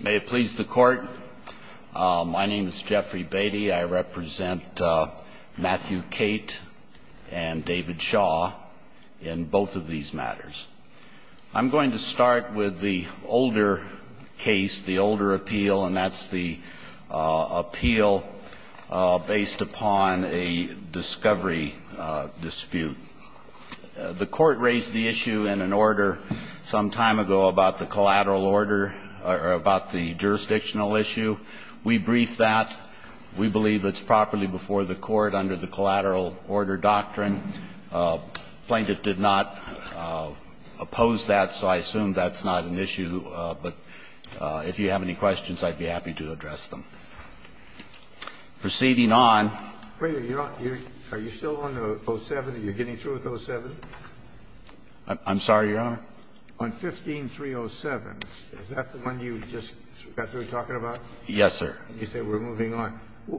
May it please the Court. My name is Jeffrey Beatty. I represent Matthew Cate and David Shaw in both of these matters. I'm going to start with the older case, the older appeal, and that's the appeal based upon a discovery dispute. The Court raised the issue in an order some time ago about the collateral order or about the jurisdictional issue. We briefed that. We believe it's properly before the Court under the collateral order doctrine. Plaintiff did not oppose that, so I assume that's not an issue. But if you have any questions, I'd be happy to address them. Proceeding on. Are you still on the 07? Are you getting through with 07? I'm sorry, Your Honor. On 15-307, is that the one you just got through talking about? Yes, sir. And you say we're moving on.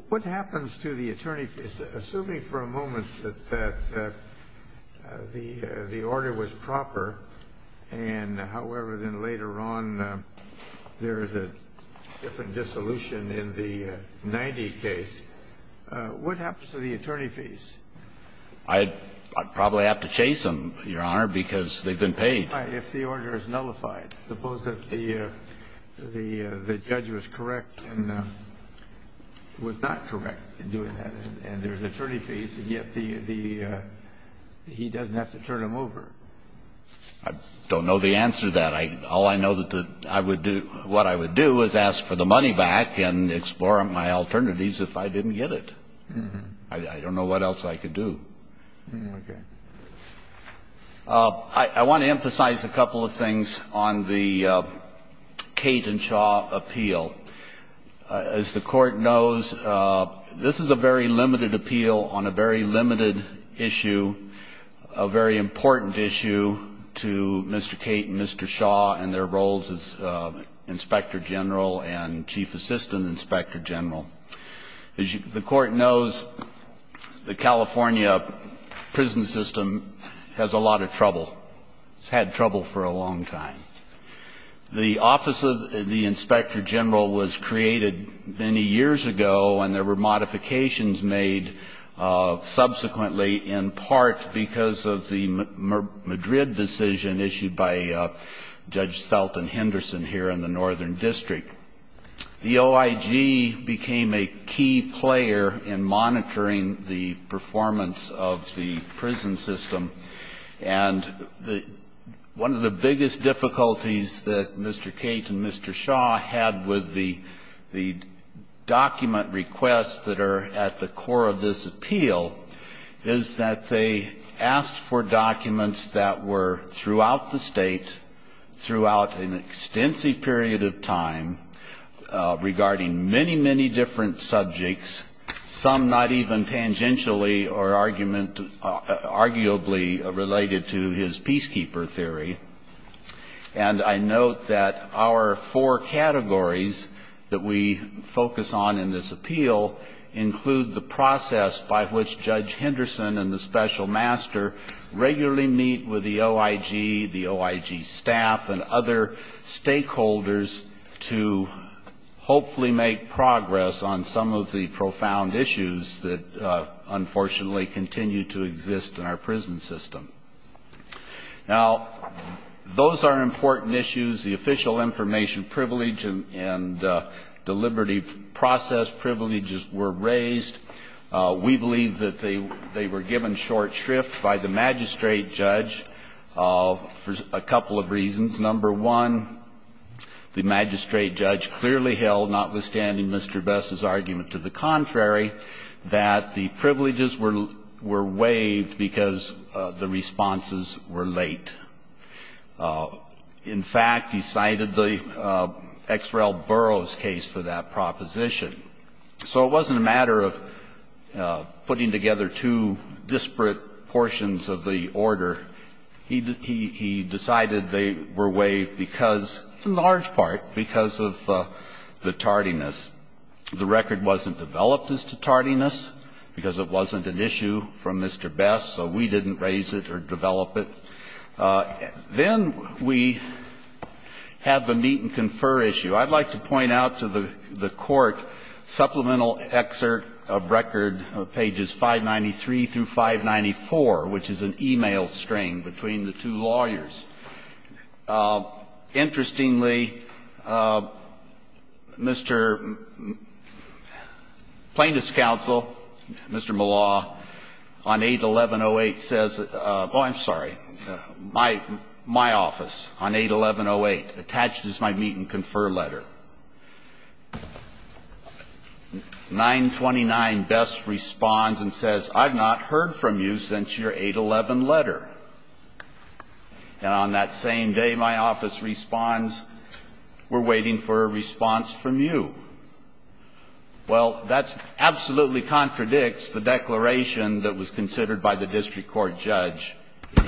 What happens to the attorney, assuming for a moment that the order was proper, and, however, then later on there's a different dissolution in the 90 case, what happens to the attorney fees? I'd probably have to chase them, Your Honor, because they've been paid. If the order is nullified. Suppose that the judge was correct and was not correct in doing that, and there's attorney fees, and yet he doesn't have to turn them over. I don't know the answer to that. All I know that I would do what I would do is ask for the money back and explore my alternatives if I didn't get it. I don't know what else I could do. Okay. I want to emphasize a couple of things on the Kate and Shaw appeal. As the Court knows, this is a very limited appeal on a very limited issue, a very important issue to Mr. Kate and Mr. Shaw and their roles as Inspector General and Chief Assistant Inspector General. As the Court knows, the California prison system has a lot of trouble. It's had trouble for a long time. The Office of the Inspector General was created many years ago, and there were modifications made subsequently in part because of the Madrid decision issued by Judge Stelton Henderson here in the Northern District. The OIG became a key player in monitoring the performance of the prison system, and one of the biggest difficulties that Mr. Kate and Mr. Shaw had with the document requests that are at the core of this appeal is that they asked for documents that were throughout the State, throughout an extensive period of time, regarding many, many different subjects, some not even tangentially or arguably related to his peacekeeper theory. And I note that our four categories that we focus on in this appeal include the process by which Judge Henderson and the Special Master regularly meet with the OIG, the OIG staff, and other stakeholders to hopefully make progress on some of the profound issues that unfortunately continue to exist in our prison system. Now, those are important issues. The official information privilege and deliberative process privileges were raised. We believe that they were given short shrift by the magistrate judge for a couple of reasons. Number one, the magistrate judge clearly held, notwithstanding Mr. Bess's argument to the contrary, that the privileges were waived because the responses were late. In fact, he cited the X. Rel. Burroughs case for that proposition. So it wasn't a matter of putting together two disparate portions of the order. He decided they were waived because, in large part, because of the tardiness. The record wasn't developed as to tardiness because it wasn't an issue from Mr. Bess, so we didn't raise it or develop it. Then we have the meet-and-confer issue. I'd like to point out to the Court supplemental excerpt of record pages 593 through 594, which is an e-mail string between the two lawyers. Interestingly, Mr. Plaintiff's counsel, Mr. Millaw, on 811.08, says oh, I'm sorry. My office on 811.08, attached is my meet-and-confer letter. 929, Bess responds and says, I've not heard from you since your 811 letter. And on that same day, my office responds, we're waiting for a response from you. Well, that absolutely contradicts the declaration that was considered by the district court judge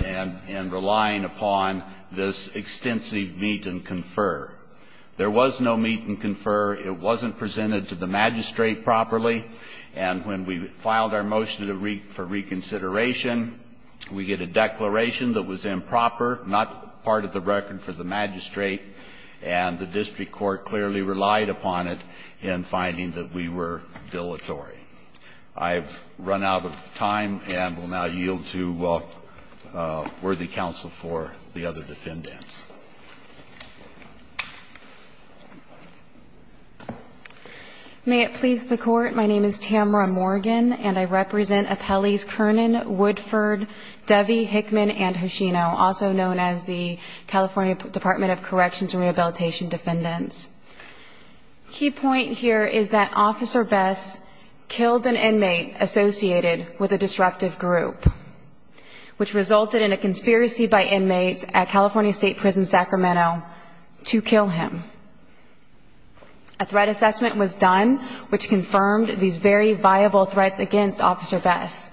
in relying upon this extensive meet-and-confer. There was no meet-and-confer. It wasn't presented to the magistrate properly. And when we filed our motion for reconsideration, we get a declaration that was improper, not part of the record for the magistrate. And the district court clearly relied upon it in finding that we were dilatory. I've run out of time and will now yield to worthy counsel for the other defendants. May it please the Court, my name is Tamara Morgan, and I represent appellees Kernan, Woodford, Devey, Hickman, and Hoshino, also known as the California Department of Corrections and Rehabilitation Defendants. Key point here is that Officer Bess killed an inmate associated with a disruptive group, which resulted in a conspiracy by inmates at California State Prison Sacramento to kill him. A threat assessment was done, which confirmed these very viable threats against Officer Bess.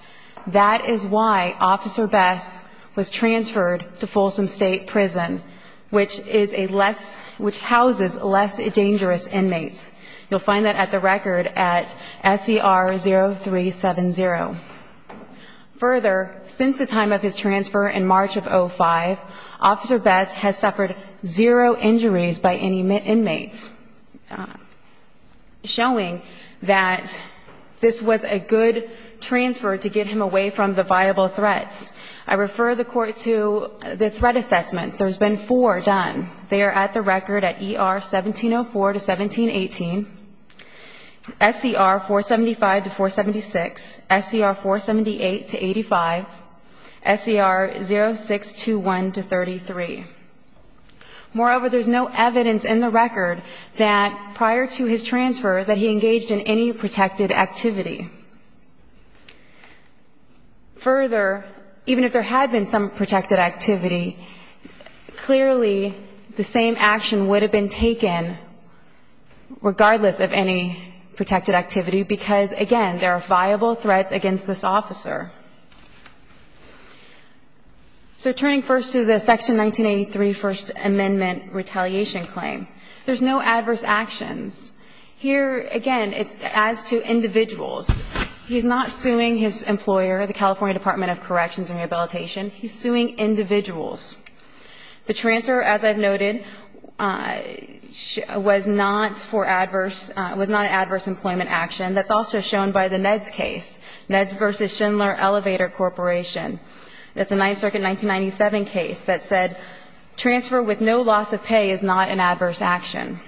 That is why Officer Bess was transferred to Folsom State Prison, which houses less dangerous inmates. You'll find that at the record at SCR0370. Further, since the time of his transfer in March of 05, Officer Bess has suffered zero injuries by any inmates, showing that this was a good transfer to get him away from the viable threats. I refer the Court to the threat assessments. There's been four done. They are at the record at ER1704-1718, SCR475-476, SCR478-85, SCR0621-33. Moreover, there's no evidence in the record that prior to his transfer that he engaged in any protected activity. Further, even if there had been some protected activity, clearly the same action would have been taken regardless of any protected activity because, again, there are viable threats against this officer. So turning first to the Section 1983 First Amendment retaliation claim, there's no adverse actions. Here, again, it's as to individuals. He's not suing his employer, the California Department of Corrections and Rehabilitation. He's suing individuals. The transfer, as I've noted, was not for adverse – was not an adverse employment action. That's also shown by the NEDS case, NEDS v. Schindler Elevator Corporation. That's a Ninth Circuit 1997 case that said transfer with no loss of pay is not an adverse action.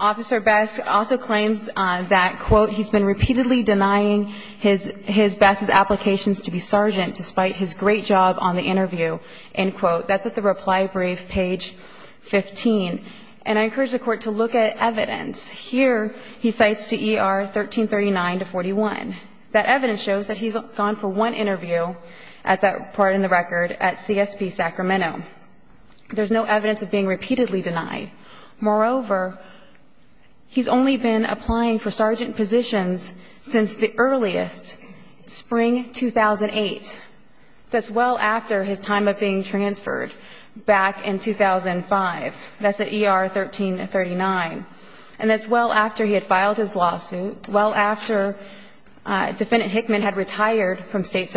Officer Bess also claims that, quote, he's been repeatedly denying his – Bess's applications to be sergeant despite his great job on the interview, end quote. That's at the reply brief, page 15. And I encourage the Court to look at evidence. Here, he cites CER 1339-41. That evidence shows that he's gone for one interview at that part in the record at CSP Sacramento. There's no evidence of being repeatedly denied. Moreover, he's only been applying for sergeant positions since the earliest, spring 2008. That's well after his time of being transferred back in 2005. That's at ER 1339. And that's well after he had filed his lawsuit, well after Defendant Hickman had in 2006.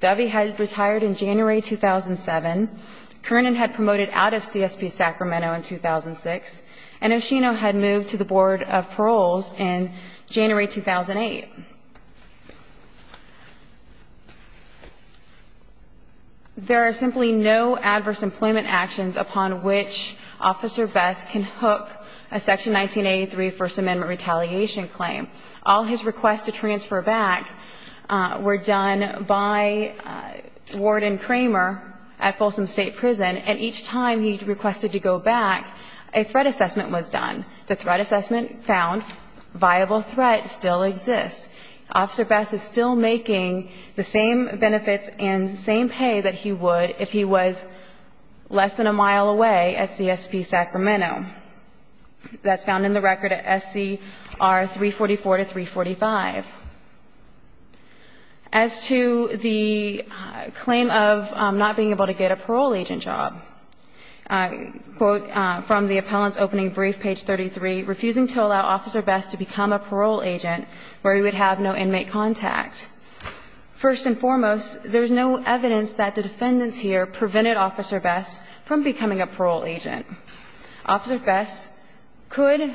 Dovey had retired in January 2007. Kernan had promoted out of CSP Sacramento in 2006. And Oshino had moved to the Board of Paroles in January 2008. There are simply no adverse employment actions upon which Officer Bess can hook a Section 1983 First Amendment retaliation claim. All his requests to transfer back were done by Warden Kramer at Folsom State Prison. And each time he requested to go back, a threat assessment was done. The threat assessment found viable threat still exists. Officer Bess is still making the same benefits and same pay that he would if he was less than a mile away at CSP Sacramento. That's found in the record at SCR 344 to 345. As to the claim of not being able to get a parole agent job, quote, from the appellant's opening brief, page 33, refusing to allow Officer Bess to become a parole agent where he would have no inmate contact. First and foremost, there's no evidence that the defendants here prevented Officer Bess from becoming a parole agent. Officer Bess could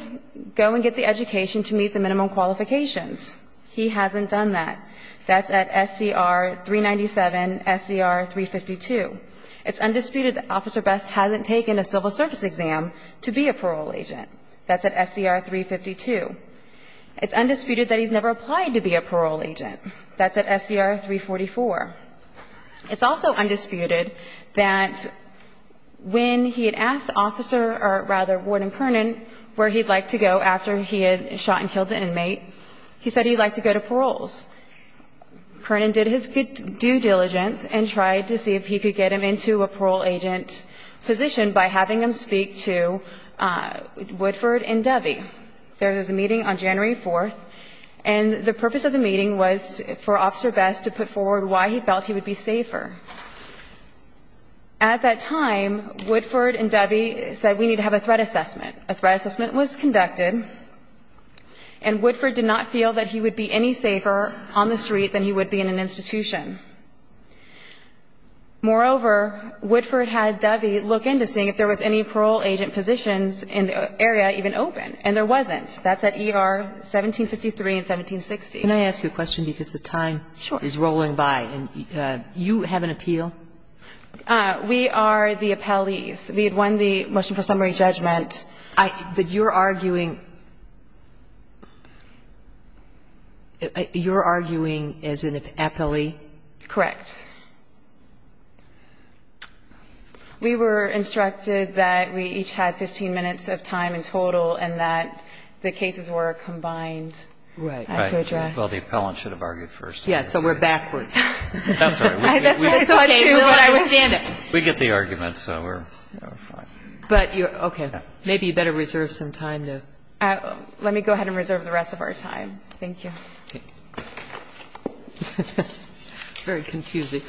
go and get the education to meet the minimum qualifications. He hasn't done that. That's at SCR 397, SCR 352. It's undisputed that Officer Bess hasn't taken a civil service exam to be a parole agent. That's at SCR 352. It's undisputed that he's never applied to be a parole agent. That's at SCR 344. It's also undisputed that when he had asked Officer or rather Warden Kernan where he'd like to go after he had shot and killed the inmate, he said he'd like to go to paroles. Kernan did his due diligence and tried to see if he could get him into a parole agent position by having him speak to Woodford and Devey. There was a meeting on January 4th, and the purpose of the meeting was for Officer Bess to put forward why he felt he would be safer. At that time, Woodford and Devey said we need to have a threat assessment. A threat assessment was conducted, and Woodford did not feel that he would be any safer on the street than he would be in an institution. Moreover, Woodford had Devey look into seeing if there was any parole agent positions in the area even open, and there wasn't. That's at ER 1753 and 1760. Kagan, can I ask you a question because the time is rolling by? And you have an appeal? We are the appellees. We had won the motion for summary judgment. But you're arguing as an appellee? Correct. We were instructed that we each had 15 minutes of time in total and that the cases were combined to address. Well, the appellant should have argued first. Yes, so we're backwards. That's right. We get the argument, so we're fine. Okay. Maybe you better reserve some time. Let me go ahead and reserve the rest of our time. Thank you. It's very confusing.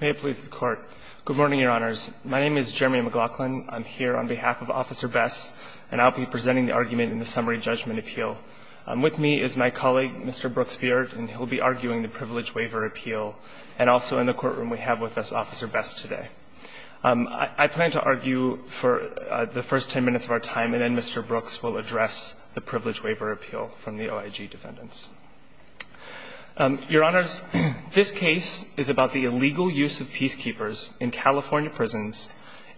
May it please the Court. Good morning, Your Honors. My name is Jeremy McLaughlin. I'm here on behalf of Officer Best, and I'll be presenting the argument in the summary judgment appeal. With me is my colleague, Mr. Brooks Beard, and he'll be arguing the privilege waiver appeal, and also in the courtroom we have with us Officer Best today. I plan to argue for the first 10 minutes of our time, and then Mr. Brooks will address the privilege waiver appeal from the OIG defendants. Your Honors, this case is about the illegal use of peacekeepers in California prisons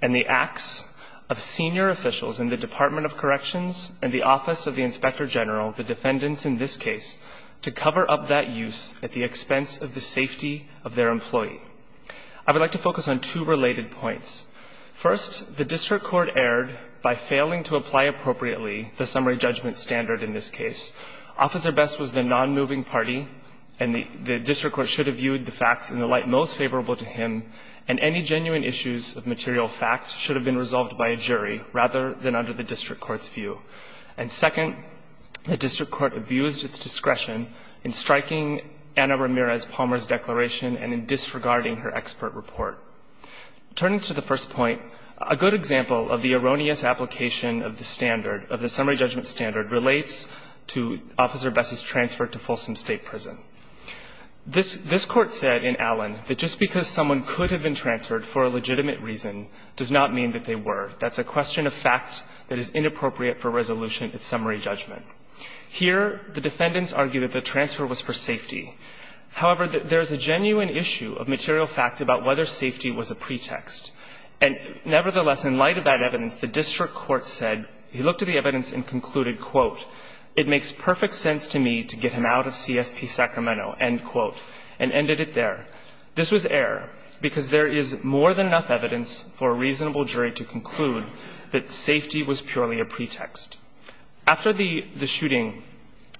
and the acts of senior officials in the Department of Corrections and the Office of the Inspector General, the defendants in this case, to cover up that use at the expense of the safety of their employee. I would like to focus on two related points. First, the district court erred by failing to apply appropriately the summary judgment standard in this case. Officer Best was the nonmoving party, and the district court should have viewed the facts in the light most favorable to him, and any genuine issues of material facts should have been resolved by a jury rather than under the district court's view. And second, the district court abused its discretion in striking Anna Ramirez Palmer's declaration and in disregarding her expert report. Turning to the first point, a good example of the erroneous application of the standard of the summary judgment standard relates to Officer Best's transfer to Folsom State Prison. This Court said in Allen that just because someone could have been transferred for a legitimate reason does not mean that they were. That's a question of fact that is inappropriate for resolution at summary judgment. Here, the defendants argue that the transfer was for safety. However, there is a genuine issue of material fact about whether safety was a pretext. And nevertheless, in light of that evidence, the district court said he looked at the evidence and concluded, quote, it makes perfect sense to me to get him out of CSP Sacramento, end quote, and ended it there. This was error because there is more than enough evidence for a reasonable jury to conclude that safety was purely a pretext. After the shooting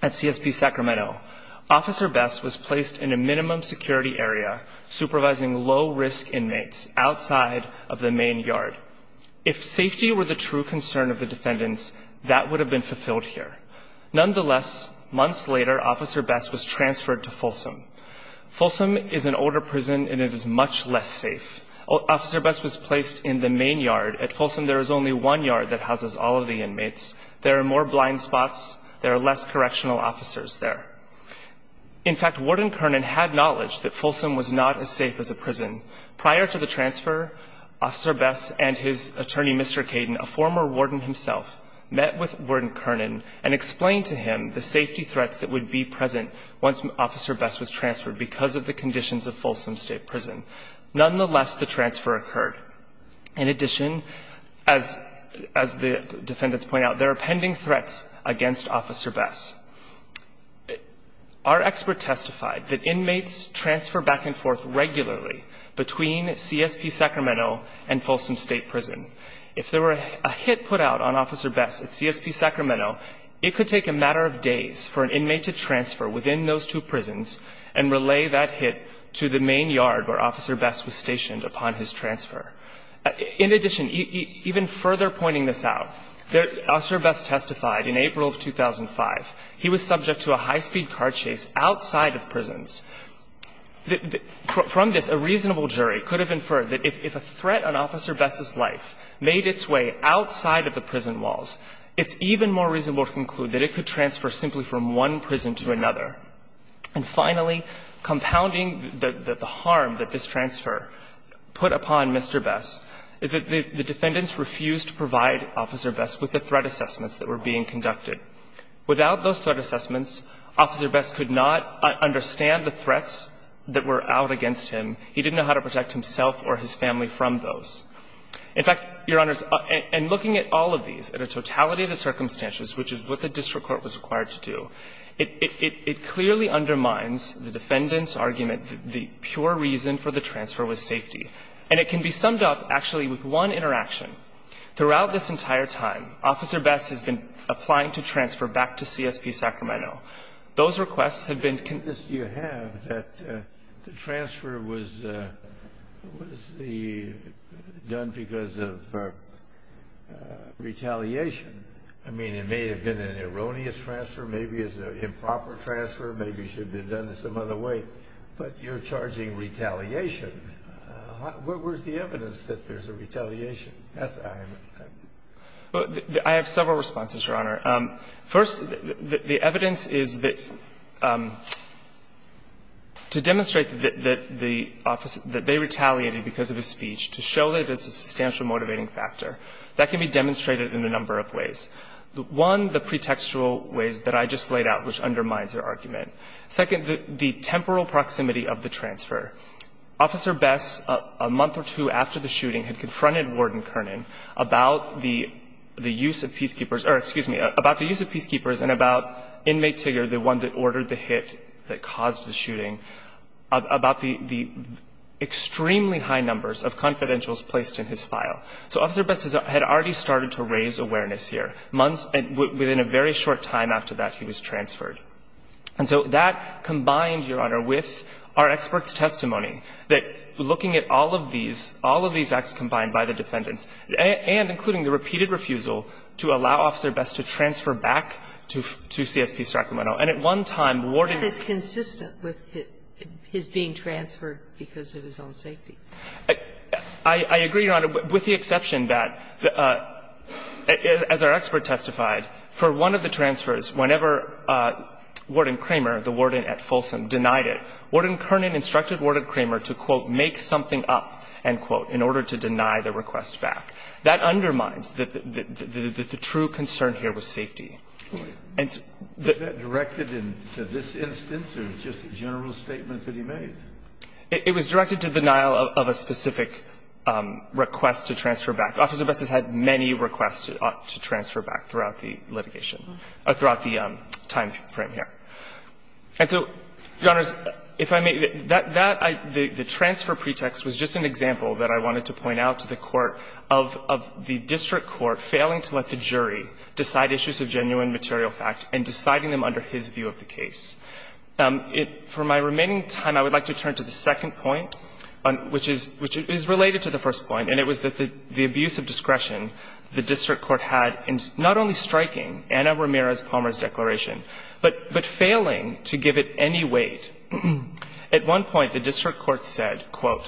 at CSP Sacramento, Officer Best was placed in a minimum security area supervising low-risk inmates outside of the main yard. If safety were the true concern of the defendants, that would have been fulfilled here. Nonetheless, months later, Officer Best was transferred to Folsom. Folsom is an older prison and it is much less safe. Officer Best was placed in the main yard. At Folsom, there is only one yard that houses all of the inmates. There are more blind spots. There are less correctional officers there. In fact, Warden Kernan had knowledge that Folsom was not as safe as a prison. Prior to the transfer, Officer Best and his attorney, Mr. Caden, a former warden himself, met with Warden Kernan and explained to him the safety threats that would be present once Officer Best was transferred because of the conditions of Folsom State Prison. Nonetheless, the transfer occurred. In addition, as the defendants point out, there are pending threats against Officer Best. Our expert testified that inmates transfer back and forth regularly between CSP Sacramento and Folsom State Prison. If there were a hit put out on Officer Best at CSP Sacramento, it could take a matter of days for an inmate to transfer within those two prisons and relay that hit to the main yard where Officer Best was stationed upon his transfer. In addition, even further pointing this out, Officer Best testified in April of 2005 he was subject to a high-speed car chase outside of prisons. From this, a reasonable jury could have inferred that if a threat on Officer Best's life made its way outside of the prison walls, it's even more reasonable to conclude that it could transfer simply from one prison to another. And finally, compounding the harm that this transfer put upon Mr. Best is that the defendants refused to provide Officer Best with the threat assessments that were being conducted. Without those threat assessments, Officer Best could not understand the threats that were out against him. He didn't know how to protect himself or his family from those. In fact, Your Honors, in looking at all of these, at a totality of the circumstances, which is what the district court was required to do, it clearly undermines the defendant's argument that the pure reason for the transfer was safety. And it can be summed up, actually, with one interaction. Throughout this entire time, Officer Best has been applying to transfer back to CSP Sacramento. Those requests have been convinced. that the transfer was done because of retaliation. I mean, it may have been an erroneous transfer. Maybe it's an improper transfer. Maybe it should have been done some other way. But you're charging retaliation. Where's the evidence that there's a retaliation? I have several responses, Your Honor. First, the evidence is that to demonstrate that the officer, that they retaliated because of his speech, to show that there's a substantial motivating factor, that can be demonstrated in a number of ways. One, the pretextual ways that I just laid out, which undermines their argument. Second, the temporal proximity of the transfer. Officer Best, a month or two after the shooting, had confronted Warden Kernan about the use of peacekeepers, or excuse me, about the use of peacekeepers and about inmate Tigger, the one that ordered the hit that caused the shooting, about the extremely high numbers of confidentials placed in his file. So Officer Best had already started to raise awareness here. Within a very short time after that, he was transferred. And so that combined, Your Honor, with our experts' testimony, that looking at all of these acts combined by the defendants, and including the repeated refusal to allow Officer Best to transfer back to CSP Sacramento. And at one time, Warden Kernan. That is consistent with his being transferred because of his own safety. I agree, Your Honor, with the exception that, as our expert testified, for one of the transfers, whenever Warden Kramer, the warden at Folsom, denied it, Warden Kernan instructed Warden Kramer to, quote, make something up, end quote, in order to deny the request back. That undermines the true concern here with safety. And so the -- Was that directed to this instance or just a general statement that he made? It was directed to denial of a specific request to transfer back. Officer Best has had many requests to transfer back throughout the litigation or throughout the time frame here. And so, Your Honor, if I may, that the transfer pretext was just an example that I wanted to point out to the Court of the district court failing to let the jury decide issues of genuine material fact and deciding them under his view of the case. For my remaining time, I would like to turn to the second point, which is related to the first point, and it was that the abuse of discretion the district court had in not only striking Anna Ramirez Palmer's declaration, but failing to give it any weight. At one point, the district court said, quote,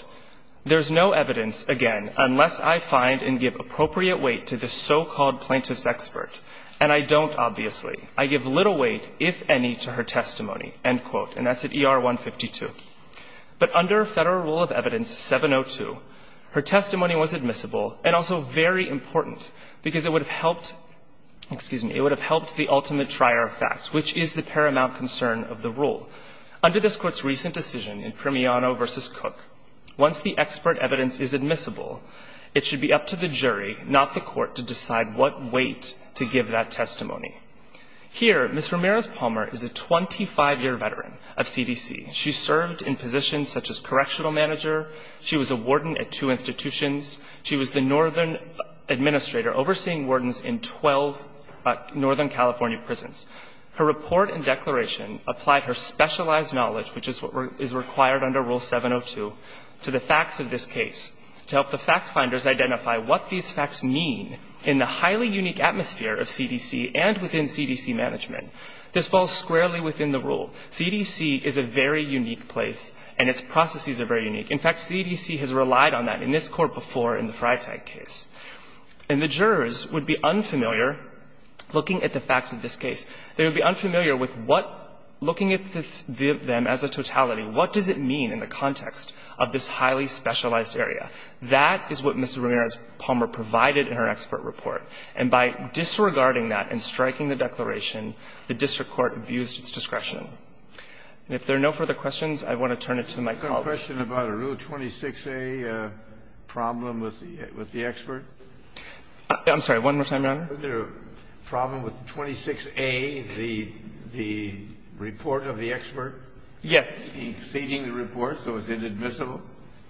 there's no evidence, again, unless I find and give appropriate weight to the so-called plaintiff's expert, and I don't, obviously. I give little weight, if any, to her testimony, end quote. And that's at ER 152. But under Federal Rule of Evidence 702, her testimony was admissible and also very important, because it would have helped the ultimate trier of facts, which is the paramount concern of the rule. Under this Court's recent decision in Primiano v. Cook, once the expert evidence is admissible, it should be up to the jury, not the Court, to decide what weight to give that testimony. Here, Ms. Ramirez Palmer is a 25-year veteran of CDC. She served in positions such as correctional manager. She was a warden at two institutions. She was the northern administrator overseeing wardens in 12 northern California prisons. Her report and declaration applied her specialized knowledge, which is what is required under Rule 702, to the facts of this case, to help the fact-finders identify what these facts mean in the highly unique atmosphere of CDC and within CDC management. This falls squarely within the rule. CDC is a very unique place, and its processes are very unique. In fact, CDC has relied on that. And this Court before in the Freitag case. And the jurors would be unfamiliar looking at the facts of this case. They would be unfamiliar with what, looking at them as a totality, what does it mean in the context of this highly specialized area. That is what Ms. Ramirez Palmer provided in her expert report. And by disregarding that and striking the declaration, the district court abused its discretion. And if there are no further questions, I want to turn it to the microphone. The question about a Rule 26a problem with the expert. I'm sorry. One more time, Your Honor. Was there a problem with 26a, the report of the expert? Yes. Exceeding the report, so it's inadmissible?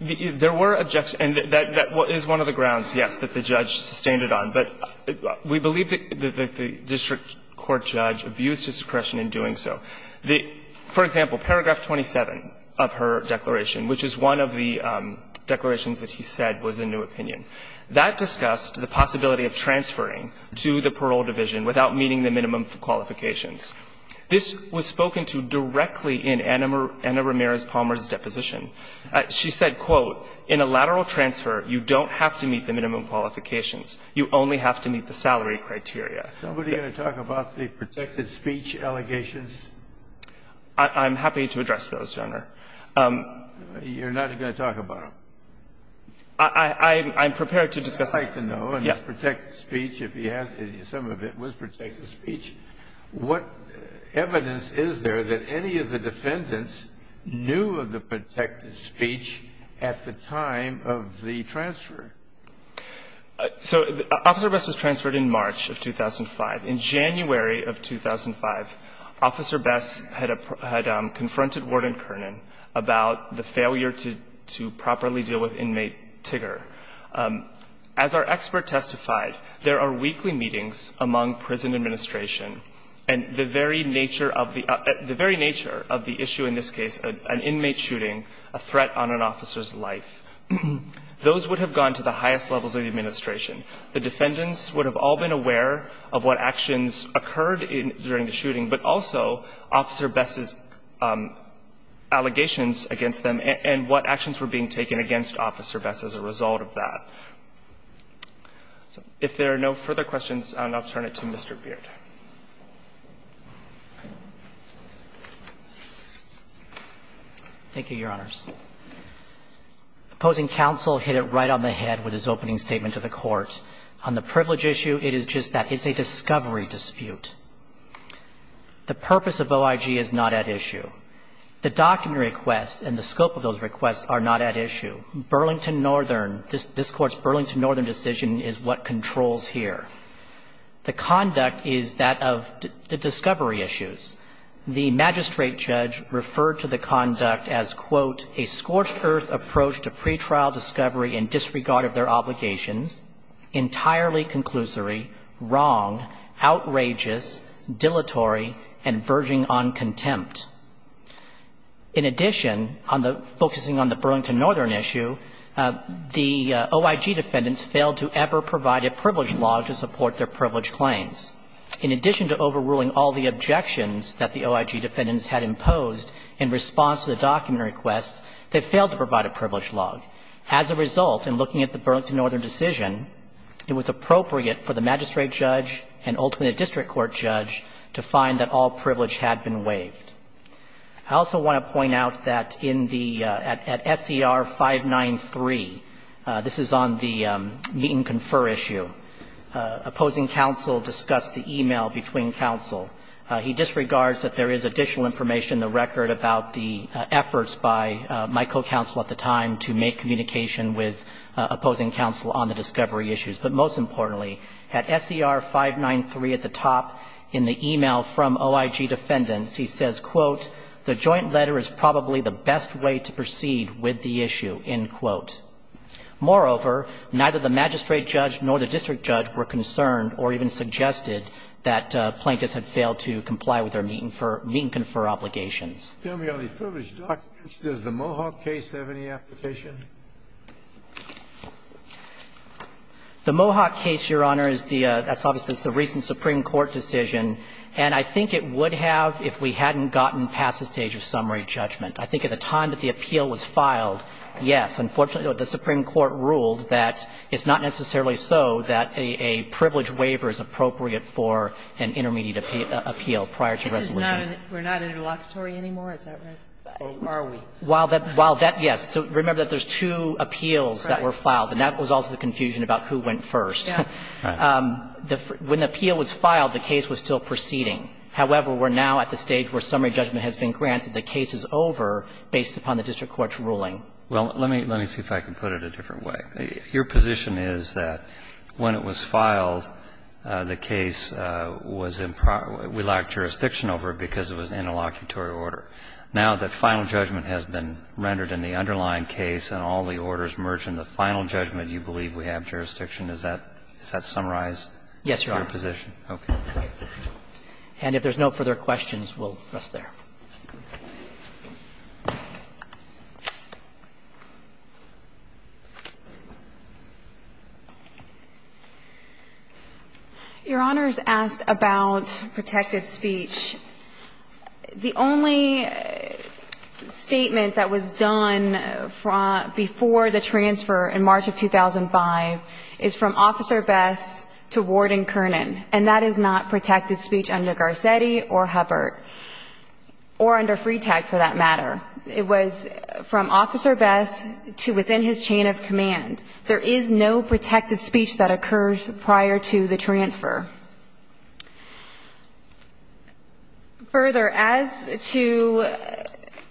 There were objections. And that is one of the grounds, yes, that the judge sustained it on. But we believe that the district court judge abused his discretion in doing so. For example, paragraph 27 of her declaration, which is one of the declarations that he said was a new opinion, that discussed the possibility of transferring to the parole division without meeting the minimum qualifications. This was spoken to directly in Anna Ramirez Palmer's deposition. She said, quote, in a lateral transfer, you don't have to meet the minimum qualifications. You only have to meet the salary criteria. Somebody going to talk about the protected speech allegations? I'm happy to address those, Your Honor. You're not going to talk about them? I'm prepared to discuss them. I'd like to know, in his protected speech, if he has, some of it was protected speech, what evidence is there that any of the defendants knew of the protected speech at the time of the transfer? So Officer Bess was transferred in March of 2005. In January of 2005, Officer Bess had confronted Warden Kernan about the failure to properly deal with inmate Tigger. As our expert testified, there are weekly meetings among prison administration, and the very nature of the issue in this case, an inmate shooting, a threat on an officer's life, those would have gone to the highest levels of the administration. The defendants would have all been aware of what actions occurred during the shooting, but also Officer Bess's allegations against them and what actions were being taken against Officer Bess as a result of that. If there are no further questions, I'll now turn it to Mr. Beard. Thank you, Your Honors. Opposing counsel hit it right on the head with his opening statement to the Court. On the privilege issue, it is just that it's a discovery dispute. The purpose of OIG is not at issue. The document requests and the scope of those requests are not at issue. Burlington Northern, this Court's Burlington Northern decision is what controls here. The conduct is that of the discovery issues. The magistrate judge referred to the conduct as, quote, a scorched earth approach to pretrial discovery in disregard of their obligations, entirely conclusory, wrong, outrageous, dilatory, and verging on contempt. In addition, focusing on the Burlington Northern issue, the OIG defendants failed to ever provide a privilege log to support their privilege claims. In addition to overruling all the objections that the OIG defendants had imposed in response to the document requests, they failed to provide a privilege log. As a result, in looking at the Burlington Northern decision, it was appropriate for the magistrate judge and ultimately the district court judge to find that all privilege had been waived. I also want to point out that in the SER 593, this is on the meet-and-confer issue, opposing counsel discussed the e-mail between counsel. He disregards that there is additional information in the record about the efforts by my co-counsel at the time to make communication with opposing counsel on the discovery issues. But most importantly, at SER 593 at the top in the e-mail from OIG defendants, he says, quote, the joint letter is probably the best way to proceed with the issue, end quote. Moreover, neither the magistrate judge nor the district judge were concerned or even suggested that plaintiffs had failed to comply with their meet-and-confer obligations. Sotomayor, the privilege documents, does the Mohawk case have any application? The Mohawk case, Your Honor, is the recent Supreme Court decision, and I think it would have if we hadn't gotten past the stage of summary judgment. I think at the time that the appeal was filed, yes. Unfortunately, the Supreme Court ruled that it's not necessarily so that a privilege waiver is appropriate for an intermediate appeal prior to resolution. This is not an – we're not an interlocutory anymore, is that right? Or are we? While that – while that, yes. So remember that there's two appeals that were filed, and that was also the confusion about who went first. Yeah. When the appeal was filed, the case was still proceeding. However, we're now at the stage where summary judgment has been granted. The case is over based upon the district court's ruling. Well, let me – let me see if I can put it a different way. Your position is that when it was filed, the case was in – we lacked jurisdiction over it because it was an interlocutory order. Now that final judgment has been rendered in the underlying case and all the orders merge in the final judgment, you believe we have jurisdiction? Is that – does that summarize your position? Yes, Your Honor. Okay. And if there's no further questions, we'll rest there. Your Honor's asked about protected speech. The only statement that was done before the transfer in March of 2005 is from Officer Bess to Warden Kernan, and that is not protected speech under Garcetti or Hubbert or under Freetag, for that matter. It was from Officer Bess to within his chain of command. There is no protected speech that occurs prior to the transfer. Further, as to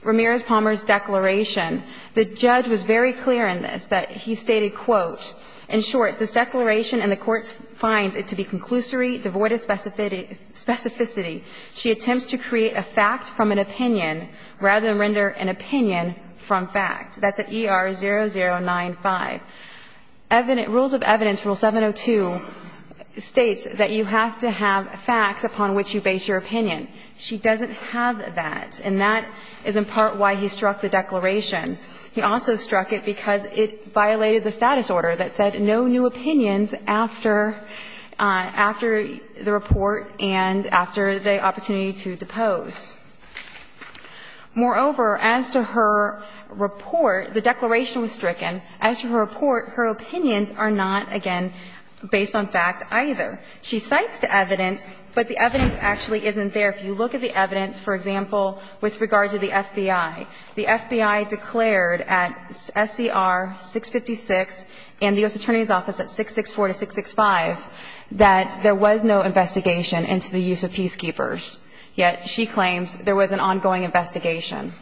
Ramirez-Palmer's declaration, the judge was very clear in this, that he stated, quote, In short, this declaration and the court finds it to be conclusory, devoid of specificity. She attempts to create a fact from an opinion rather than render an opinion from fact. That's at ER0095. Rules of Evidence, Rule 702, states that you have to have facts upon which you base your opinion. She doesn't have that, and that is in part why he struck the declaration. He also struck it because it violated the status order that said no new opinions after the report and after the opportunity to depose. Moreover, as to her report, the declaration was stricken. As to her report, her opinions are not, again, based on fact either. She cites the evidence, but the evidence actually isn't there. If you look at the evidence, for example, with regard to the FBI, the FBI declared at SCR656 and the U.S. Attorney's Office at 664 to 665 that there was no investigation into the use of peacekeepers, yet she claims there was an ongoing investigation.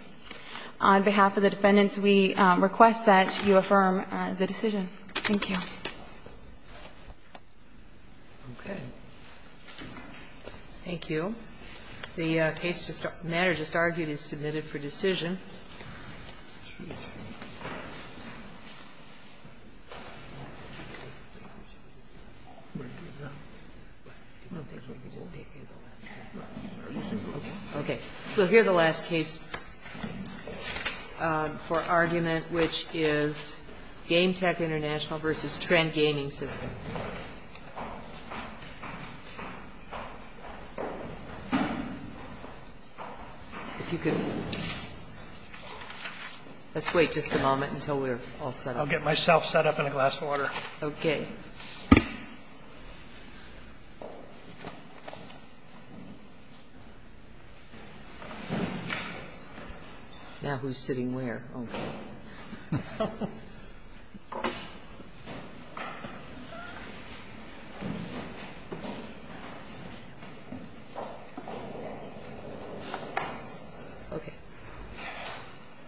On behalf of the defendants, we request that you affirm the decision. Thank you. Okay. Thank you. The case matter just argued is submitted for decision. Okay. We'll hear the last case for argument, which is Game Tech International v. Trend Gaming Systems. Let's wait just a moment until we're all set up. I'll get myself set up in a glass of water. Okay. Now who's sitting where? Okay.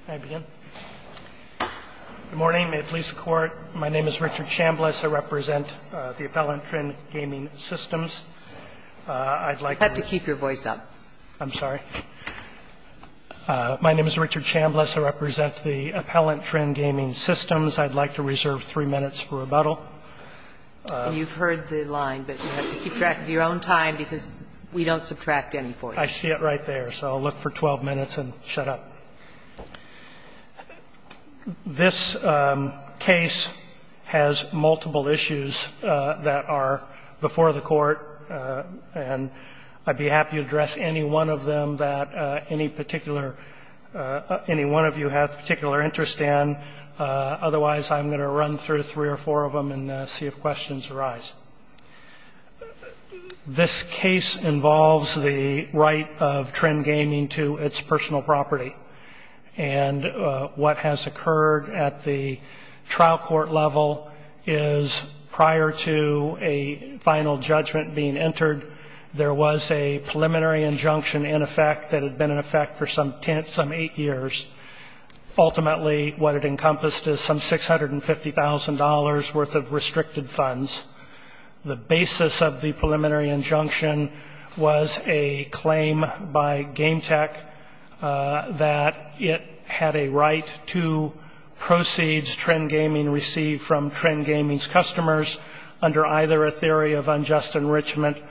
May I begin? Good morning. May it please the Court. My name is Richard Chambliss. I represent the appellant, Trend Gaming Systems. I'd like to keep your voice up. I'm sorry. My name is Richard Chambliss. I represent the appellant, Trend Gaming Systems. I'd like to reserve three minutes for rebuttal. And you've heard the line, but you have to keep track of your own time because we don't subtract any points. I see it right there. So I'll look for 12 minutes and shut up. This case has multiple issues that are before the Court, and I'd be happy to address any one of them that any one of you have particular interest in. Otherwise, I'm going to run through three or four of them and see if questions arise. This case involves the right of Trend Gaming to its personal property. And what has occurred at the trial court level is prior to a final judgment being entered, there was a preliminary injunction in effect that had been in effect for some eight years. Ultimately, what it encompassed is some $650,000 worth of restricted funds. The basis of the preliminary injunction was a claim by GameTech that it had a right to proceeds Trend Gaming received from Trend Gaming's customers under either a theory of conversion.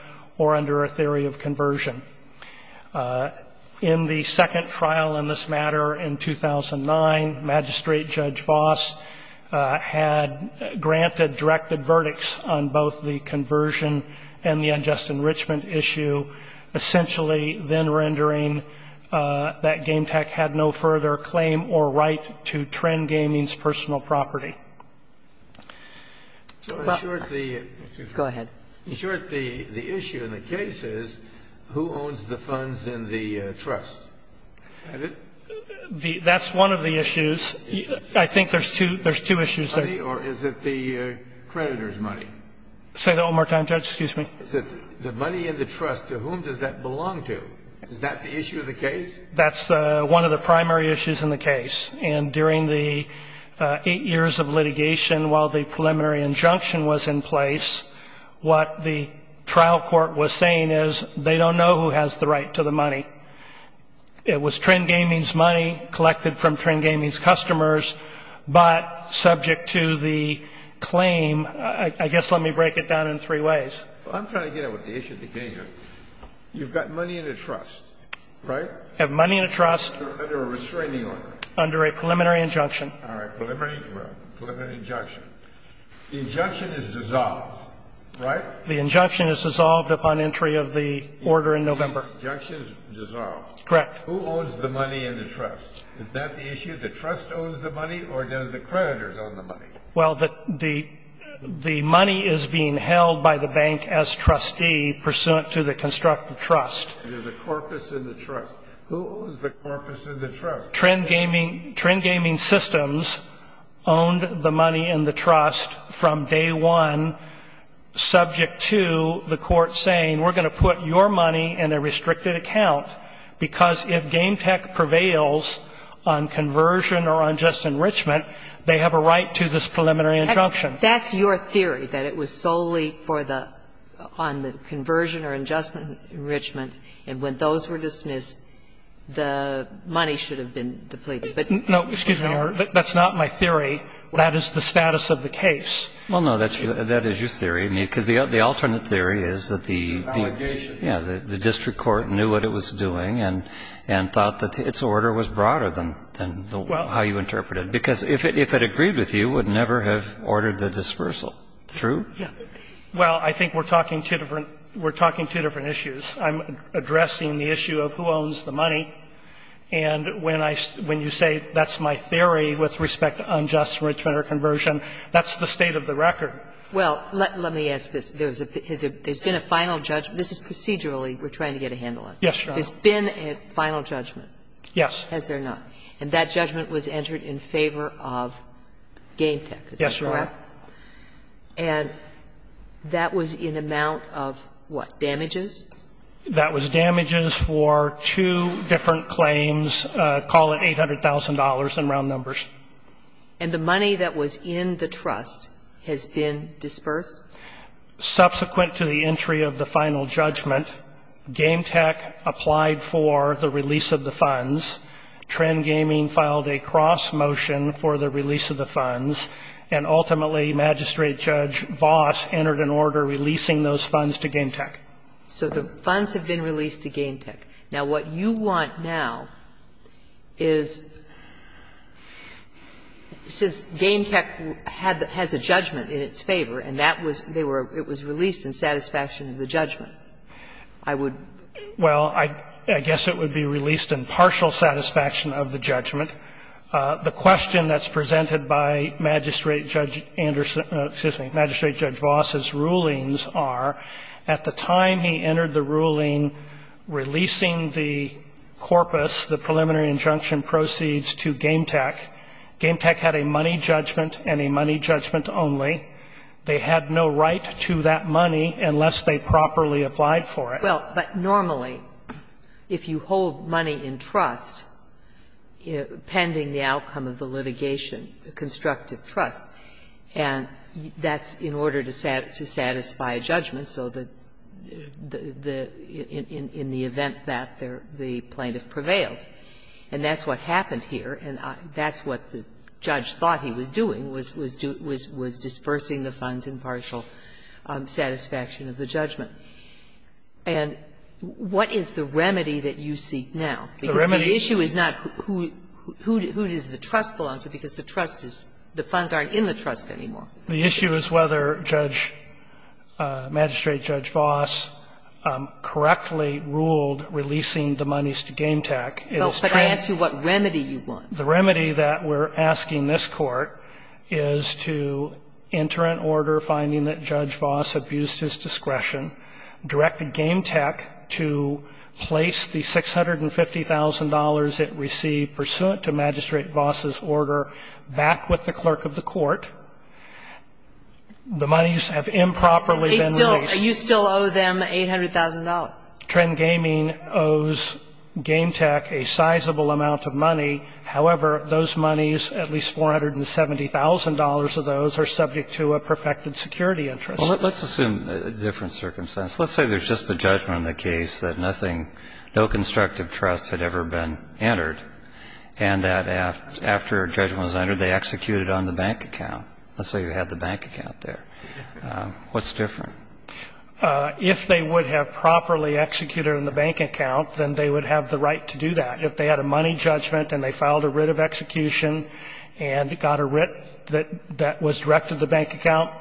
In the second trial in this matter in 2009, Magistrate Judge Voss had granted directed verdicts on both the conversion and the unjust enrichment issue, essentially then rendering that GameTech had no further claim or right to Trend Gaming's personal property. In short, the issue in the case is, who owns the funds in the trust? Is that it? That's one of the issues. I think there's two issues there. Is it the creditor's money? Say that one more time, Judge, excuse me. The money in the trust, to whom does that belong to? Is that the issue of the case? That's one of the primary issues in the case. And during the eight years of litigation, while the preliminary injunction was in place, what the trial court was saying is, they don't know who has the right to the money. It was Trend Gaming's money collected from Trend Gaming's customers, but subject to the claim, I guess let me break it down in three ways. I'm trying to get at what the issue of the case is. You've got money in the trust, right? You have money in the trust. Under a restraining order. Under a preliminary injunction. All right. Preliminary injunction. The injunction is dissolved, right? The injunction is dissolved upon entry of the order in November. The injunction is dissolved. Correct. Who owns the money in the trust? Is that the issue? The trust owns the money, or does the creditor own the money? Well, the money is being held by the bank as trustee pursuant to the constructive trust. There's a corpus in the trust. Who owns the corpus in the trust? Trend Gaming Systems owned the money in the trust from day one, subject to the court saying we're going to put your money in a restricted account because if Game Tech prevails on conversion or unjust enrichment, they have a right to this preliminary injunction. That's your theory, that it was solely for the – on the conversion or unjust enrichment, and when those were dismissed, the money should have been depleted. No, excuse me, Your Honor. That's not my theory. That is the status of the case. Well, no. That is your theory. Because the alternate theory is that the district court knew what it was doing and thought that its order was broader than how you interpret it. Because if it agreed with you, it would never have ordered the dispersal. True? Yeah. Well, I think we're talking two different – we're talking two different issues. I'm addressing the issue of who owns the money. And when I – when you say that's my theory with respect to unjust enrichment or conversion, that's the state of the record. Well, let me ask this. There's been a final judgment. This is procedurally we're trying to get a handle on. Yes, Your Honor. There's been a final judgment. Yes. Has there not? And that judgment was entered in favor of Game Tech, is that correct? Yes, Your Honor. Okay. And that was in amount of what, damages? That was damages for two different claims, call it $800,000 in round numbers. And the money that was in the trust has been dispersed? Subsequent to the entry of the final judgment, Game Tech applied for the release of the funds. Trend Gaming filed a cross motion for the release of the funds. And ultimately, Magistrate Judge Voss entered an order releasing those funds to Game Tech. So the funds have been released to Game Tech. Now, what you want now is, since Game Tech had the – has a judgment in its favor and that was – they were – it was released in satisfaction of the judgment, I would – Well, I guess it would be released in partial satisfaction of the judgment. The question that's presented by Magistrate Judge Anderson – excuse me, Magistrate Judge Voss's rulings are, at the time he entered the ruling releasing the corpus, the preliminary injunction proceeds to Game Tech, Game Tech had a money judgment and a money judgment only. They had no right to that money unless they properly applied for it. Well, but normally, if you hold money in trust, pending the outcome of the litigation, constructive trust, and that's in order to satisfy a judgment, so the – in the event that the plaintiff prevails. And that's what happened here, and that's what the judge thought he was doing, was dispersing the funds in partial satisfaction of the judgment. And what is the remedy that you seek now? Because the issue is not who does the trust belong to, because the trust is – the funds aren't in the trust anymore. The issue is whether Judge – Magistrate Judge Voss correctly ruled releasing the monies to Game Tech is true. Well, but I asked you what remedy you want. The remedy that we're asking this Court is to enter an order finding that Judge Voss directed Game Tech to place the $650,000 it received pursuant to Magistrate Voss's order back with the clerk of the court. The monies have improperly been released. But they still – you still owe them $800,000. Trend Gaming owes Game Tech a sizable amount of money. However, those monies, at least $470,000 of those, are subject to a perfected security interest. Well, let's assume a different circumstance. Let's say there's just a judgment in the case that nothing – no constructive trust had ever been entered, and that after a judgment was entered, they executed on the bank account. Let's say you had the bank account there. What's different? If they would have properly executed on the bank account, then they would have the right to do that. If they had a money judgment and they filed a writ of execution and got a writ that was directed to the bank account,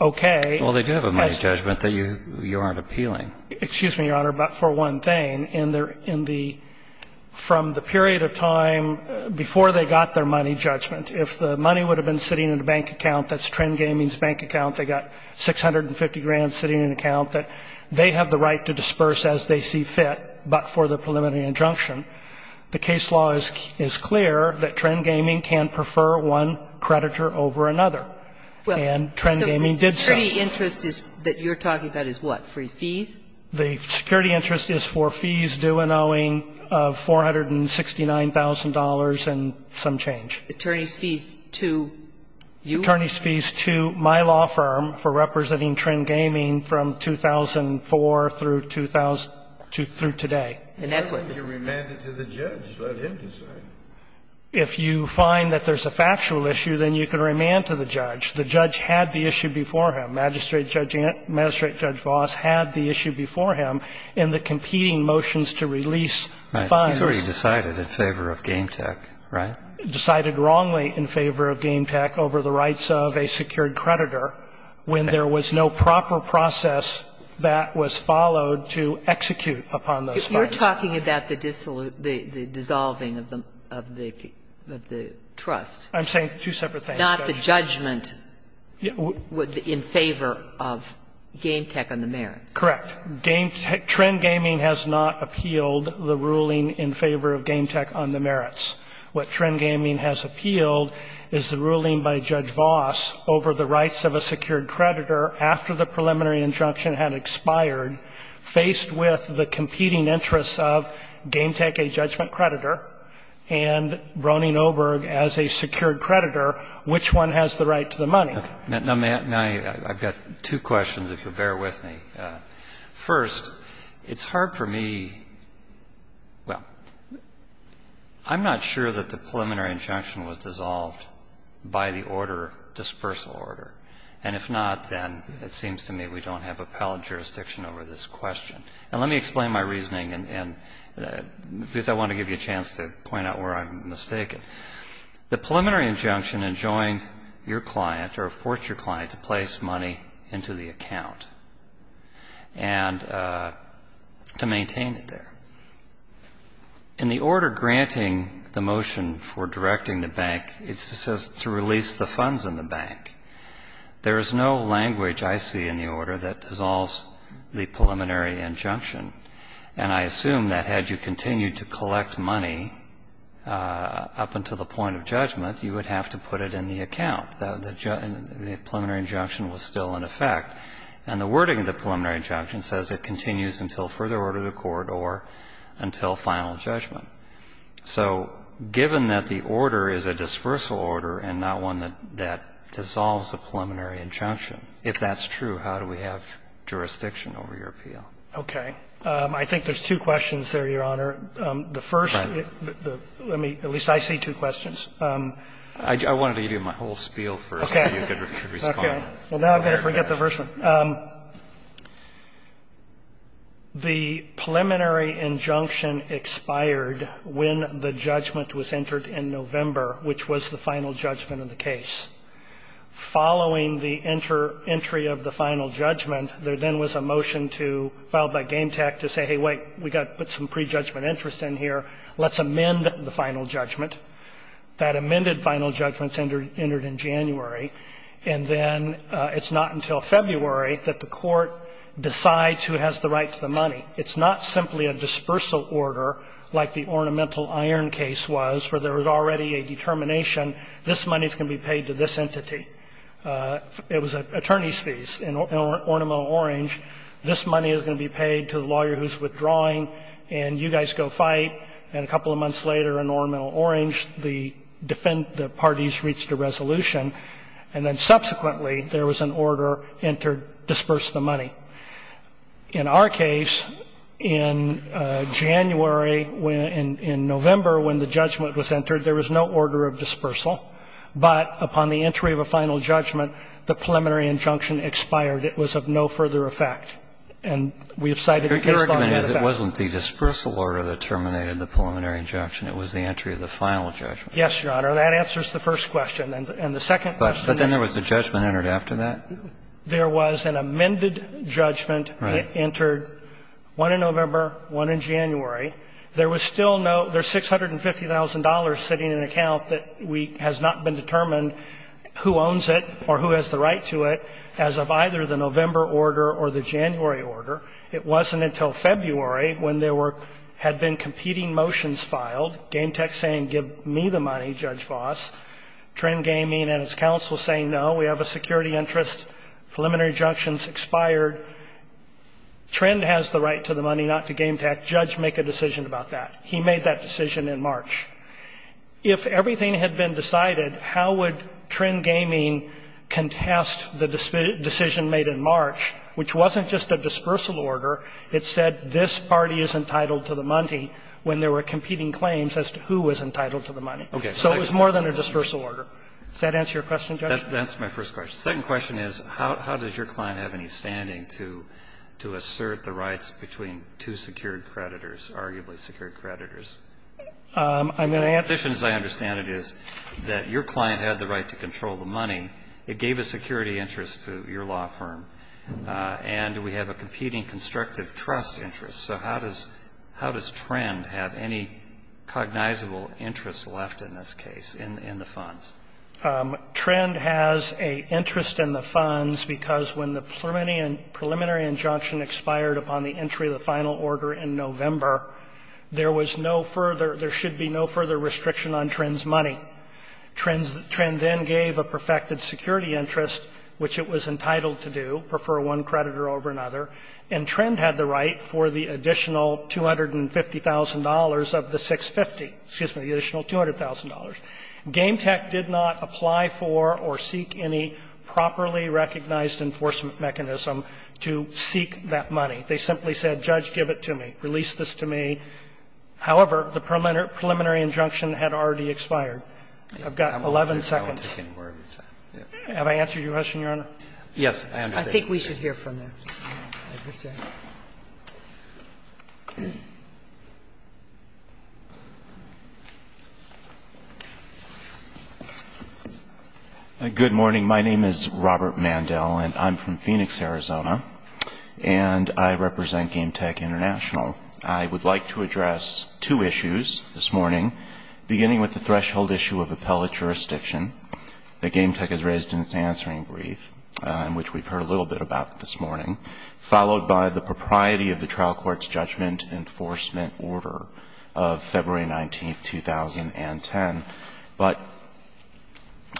okay. Well, they do have a money judgment that you aren't appealing. Excuse me, Your Honor, but for one thing, in the – from the period of time before they got their money judgment, if the money would have been sitting in a bank account that's Trend Gaming's bank account, they got $650,000 sitting in an account that they have the right to disperse as they see fit but for the preliminary injunction, the case law is clear that Trend Gaming can prefer one creditor over another, and Trend Gaming did so. So the security interest that you're talking about is what? Free fees? The security interest is for fees due and owing of $469,000 and some change. Attorneys' fees to you? Attorneys' fees to my law firm for representing Trend Gaming from 2004 through today. And that's what this is about. If you find that there's a factual issue, then you can remand to the judge. The judge had the issue before him. Magistrate Judge Vos had the issue before him in the competing motions to release funds. He's already decided in favor of GameTech, right? Decided wrongly in favor of GameTech over the rights of a secured creditor when there was no proper process that was followed to execute upon those funds. But you're talking about the dissolving of the trust. I'm saying two separate things. Not the judgment in favor of GameTech on the merits. Correct. Trend Gaming has not appealed the ruling in favor of GameTech on the merits. What Trend Gaming has appealed is the ruling by Judge Vos over the rights of a secured creditor after the preliminary injunction had expired, faced with the competing interests of GameTech, a judgment creditor, and Brony Noberg as a secured creditor, which one has the right to the money. Now, I've got two questions, if you'll bear with me. First, it's hard for me — well, I'm not sure that the preliminary injunction was dissolved by the order, dispersal order. And if not, then it seems to me we don't have appellate jurisdiction over this question. And let me explain my reasoning, because I want to give you a chance to point out where I'm mistaken. The preliminary injunction enjoined your client or forced your client to place money into the account and to maintain it there. In the order granting the motion for directing the bank, it says to release the funds in the bank. There is no language I see in the order that dissolves the preliminary injunction. And I assume that had you continued to collect money up until the point of judgment, you would have to put it in the account. The preliminary injunction was still in effect. And the wording of the preliminary injunction says it continues until further order of the court or until final judgment. So given that the order is a dispersal order and not one that dissolves the preliminary injunction, if that's true, how do we have jurisdiction over your appeal? Okay. I think there's two questions there, Your Honor. The first, let me — at least I see two questions. I wanted to give you my whole spiel first so you could respond. Okay. Well, now I'm going to forget the first one. The preliminary injunction expired when the judgment was entered in November, which was the final judgment of the case. Following the entry of the final judgment, there then was a motion to — filed by Game Tech to say, hey, wait, we've got to put some prejudgment interest in here. Let's amend the final judgment. That amended final judgment entered in January. And then it's not until February that the court decides who has the right to the money. It's not simply a dispersal order like the Ornamental Iron case was, where there was already a determination, this money is going to be paid to this entity. It was attorney's fees in Ornamental Orange. This money is going to be paid to the lawyer who's withdrawing, and you guys go fight. And a couple of months later in Ornamental Orange, the parties reached a resolution and then subsequently there was an order entered, disperse the money. In our case, in January, in November, when the judgment was entered, there was no order of dispersal, but upon the entry of a final judgment, the preliminary injunction expired. It was of no further effect. And we have cited it based on the effect. Your argument is it wasn't the dispersal order that terminated the preliminary injunction, it was the entry of the final judgment. Yes, Your Honor. That answers the first question. And the second question is? But then there was a judgment entered after that? There was an amended judgment that entered one in November, one in January. There was still no ---- there's $650,000 sitting in an account that we ---- has not been determined who owns it or who has the right to it as of either the November order or the January order. It wasn't until February when there were ---- had been competing motions filed, GameTek saying give me the money, Judge Vos, Trend Gaming and its counsel saying no, we have a security interest, preliminary injunctions expired. Trend has the right to the money, not to GameTek. Judge make a decision about that. He made that decision in March. If everything had been decided, how would Trend Gaming contest the decision made in March, which wasn't just a dispersal order, it said this party is entitled to the money when there were competing claims as to who was entitled to the money. Okay. So it was more than a dispersal order. Does that answer your question, Judge? That's my first question. The second question is how does your client have any standing to assert the rights between two secured creditors, arguably secured creditors? I'm going to answer that. The position, as I understand it, is that your client had the right to control the money. It gave a security interest to your law firm. And we have a competing constructive trust interest. So how does Trend have any cognizable interest left in this case, in the funds? Trend has an interest in the funds because when the preliminary injunction expired upon the entry of the final order in November, there was no further, there should be no further restriction on Trend's money. Trend then gave a perfected security interest, which it was entitled to do, prefer one creditor over another. And Trend had the right for the additional $250,000 of the 650. Excuse me, the additional $200,000. GameTech did not apply for or seek any properly recognized enforcement mechanism to seek that money. They simply said, Judge, give it to me. Release this to me. However, the preliminary injunction had already expired. I've got 11 seconds. Have I answered your question, Your Honor? Yes, I understand. I think we should hear from them. I appreciate it. Good morning. My name is Robert Mandel, and I'm from Phoenix, Arizona. And I represent GameTech International. I would like to address two issues this morning, beginning with the threshold issue of appellate jurisdiction that GameTech has raised in its answering brief, which we've heard a little bit about this morning, followed by the propriety of the trial court's judgment enforcement order of February 19, 2010. But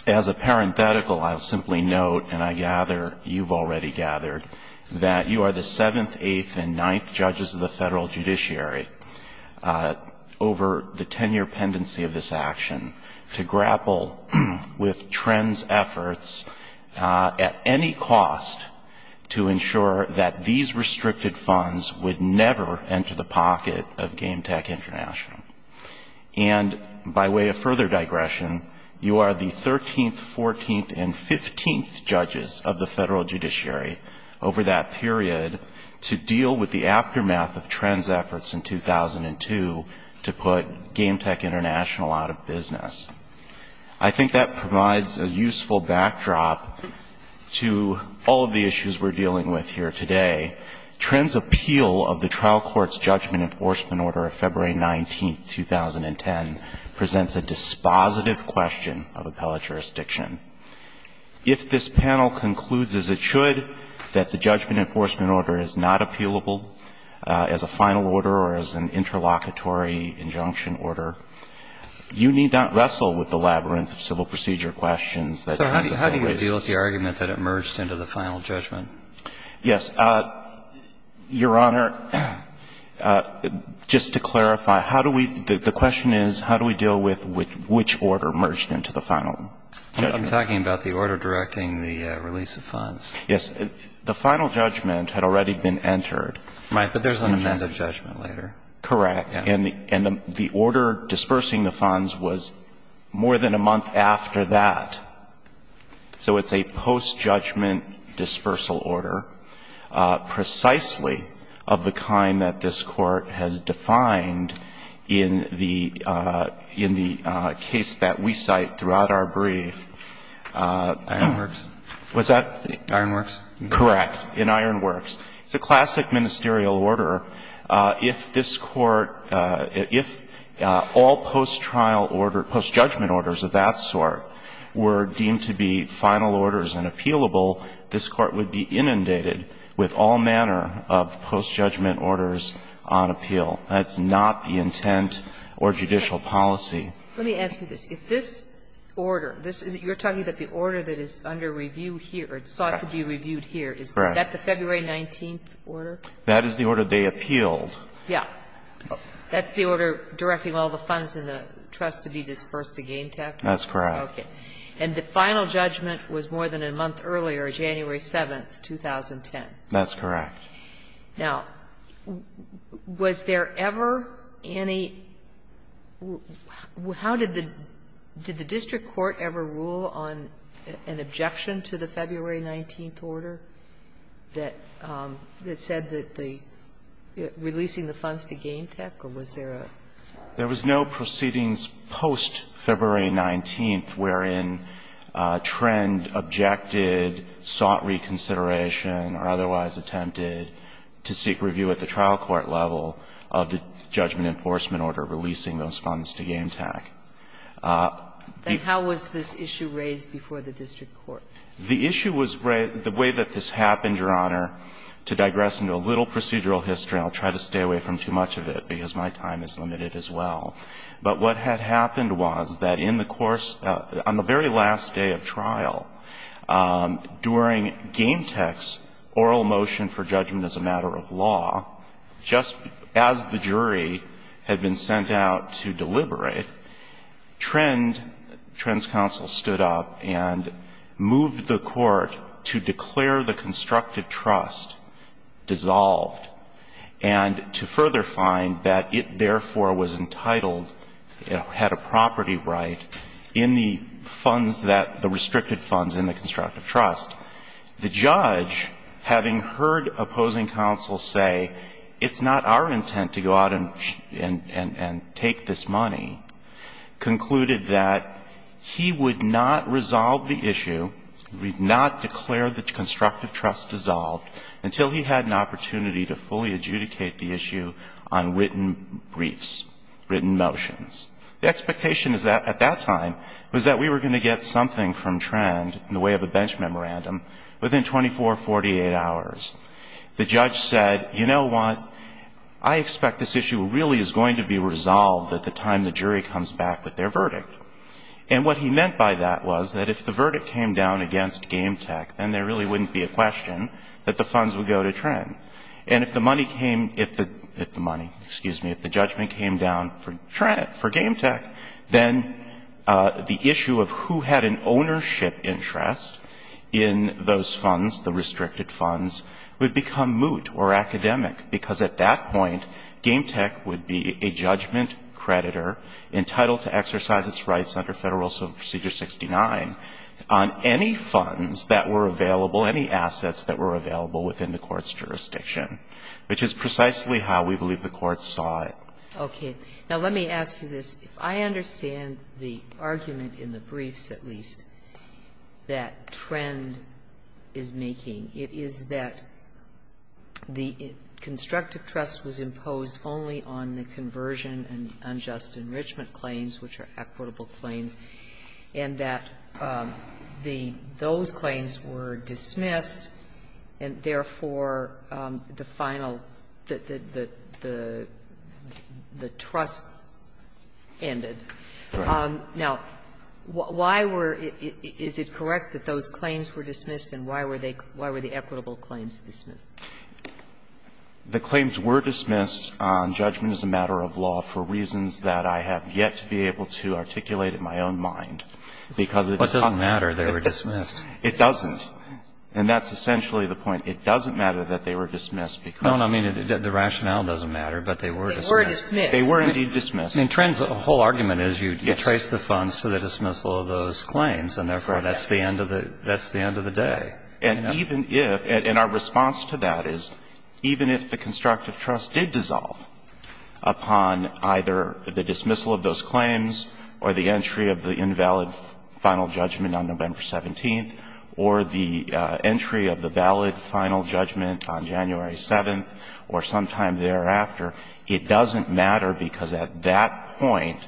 as a parenthetical, I'll simply note, and I gather you've already gathered, that you are the seventh, eighth, and ninth judges of the federal judiciary over the 10-year pendency of this action to grapple with Trend's efforts at any cost to ensure that these restricted funds would never enter the pocket of GameTech International. And by way of further digression, you are the 13th, 14th, and 15th judges of the federal judiciary over that period to deal with the aftermath of Trend's efforts in 2002 to put GameTech International out of business. I think that provides a useful backdrop to all of the issues we're dealing with here today. Trend's appeal of the trial court's judgment enforcement order of February 19, 2010 presents a dispositive question of appellate jurisdiction. If this panel concludes as it should that the judgment enforcement order is not appealable as a final order or as an interlocutory injunction order, you need not wrestle with the labyrinth of civil procedure questions that Trend always raises. So how do you deal with the argument that it merged into the final judgment? Yes. Your Honor, just to clarify, how do we – the question is, how do we deal with which order merged into the final judgment? I'm talking about the order directing the release of funds. Yes. The final judgment had already been entered. Right. But there's an amended judgment later. Correct. And the order dispersing the funds was more than a month after that. So it's a post-judgment dispersal order, precisely of the kind that this Court has defined in the – in the case that we cite throughout our brief. Ironworks. What's that? Ironworks. Correct. In Ironworks. It's a classic ministerial order. If this Court – if all post-trial order – post-judgment orders of that sort were deemed to be final orders and appealable, this Court would be inundated with all manner of post-judgment orders on appeal. That's not the intent or judicial policy. Let me ask you this. If this order – this is – you're talking about the order that is under review here or sought to be reviewed here. Is that the February 19th order? That is the order they appealed. Yeah. That's the order directing all the funds in the trust to be dispersed again, technically? That's correct. Okay. And the final judgment was more than a month earlier, January 7th, 2010. That's correct. Now, was there ever any – how did the – did the district court ever rule on an objection to the February 19th order that – that said that the – releasing the funds to Game Tech, or was there a – There was no proceedings post-February 19th wherein Trend objected, sought reconsideration, or otherwise attempted to seek review at the trial court level of the judgment enforcement order releasing those funds to Game Tech. Then how was this issue raised before the district court? The issue was raised – the way that this happened, Your Honor, to digress into a little procedural history, and I'll try to stay away from too much of it because my time is limited as well. But what had happened was that in the course – on the very last day of trial, during Game Tech's oral motion for judgment as a matter of law, just as the jury had been sent out to deliberate, Trend – Trend's counsel stood up and moved the court to declare the constructive trust dissolved and to further find that it, therefore, was entitled – had a property right in the funds that – the restricted funds in the constructive trust. The judge, having heard opposing counsel say, it's not our intent to go out and take this money, concluded that he would not resolve the issue, would not declare the constructive trust dissolved until he had an opportunity to fully adjudicate the issue on written briefs, written motions. The expectation at that time was that we were going to get something from Trend in the way of a bench memorandum within 24 or 48 hours. The judge said, you know what? I expect this issue really is going to be resolved at the time the jury comes back with their verdict. And what he meant by that was that if the verdict came down against Game Tech, then there really wouldn't be a question that the funds would go to Trend. And if the money came – if the – if the money, excuse me – if the judgment came down for Trend, for Game Tech, then the issue of who had an ownership interest in those funds, the restricted funds, would become moot or academic, because at that point Game Tech would be a judgment creditor entitled to exercise its rights under Federal Civil Procedure 69 on any funds that were available, any assets that were available within the Court's jurisdiction, which is precisely how we believe the Court saw it. Okay. Now, let me ask you this. If I understand the argument in the briefs, at least, that Trend is making, it is that the constructive trust was imposed only on the conversion and unjust enrichment claims, which are equitable claims, and that the – those claims were dismissed and, therefore, the final – the trust ended. Right. Now, why were – is it correct that those claims were dismissed, and why were they – why were the equitable claims dismissed? The claims were dismissed on judgment as a matter of law for reasons that I have yet to be able to articulate in my own mind, because it is not. What doesn't matter, they were dismissed. It doesn't. And that's essentially the point. It doesn't matter that they were dismissed because – No, I mean, the rationale doesn't matter, but they were dismissed. They were dismissed. They were indeed dismissed. I mean, Trend's whole argument is you trace the funds to the dismissal of those claims, and, therefore, that's the end of the – that's the end of the day. And even if – and our response to that is even if the constructive trust did dissolve upon either the dismissal of those claims or the entry of the invalid final judgment on November 17th or the entry of the valid final judgment on January 7th or sometime thereafter, it doesn't matter because at that point,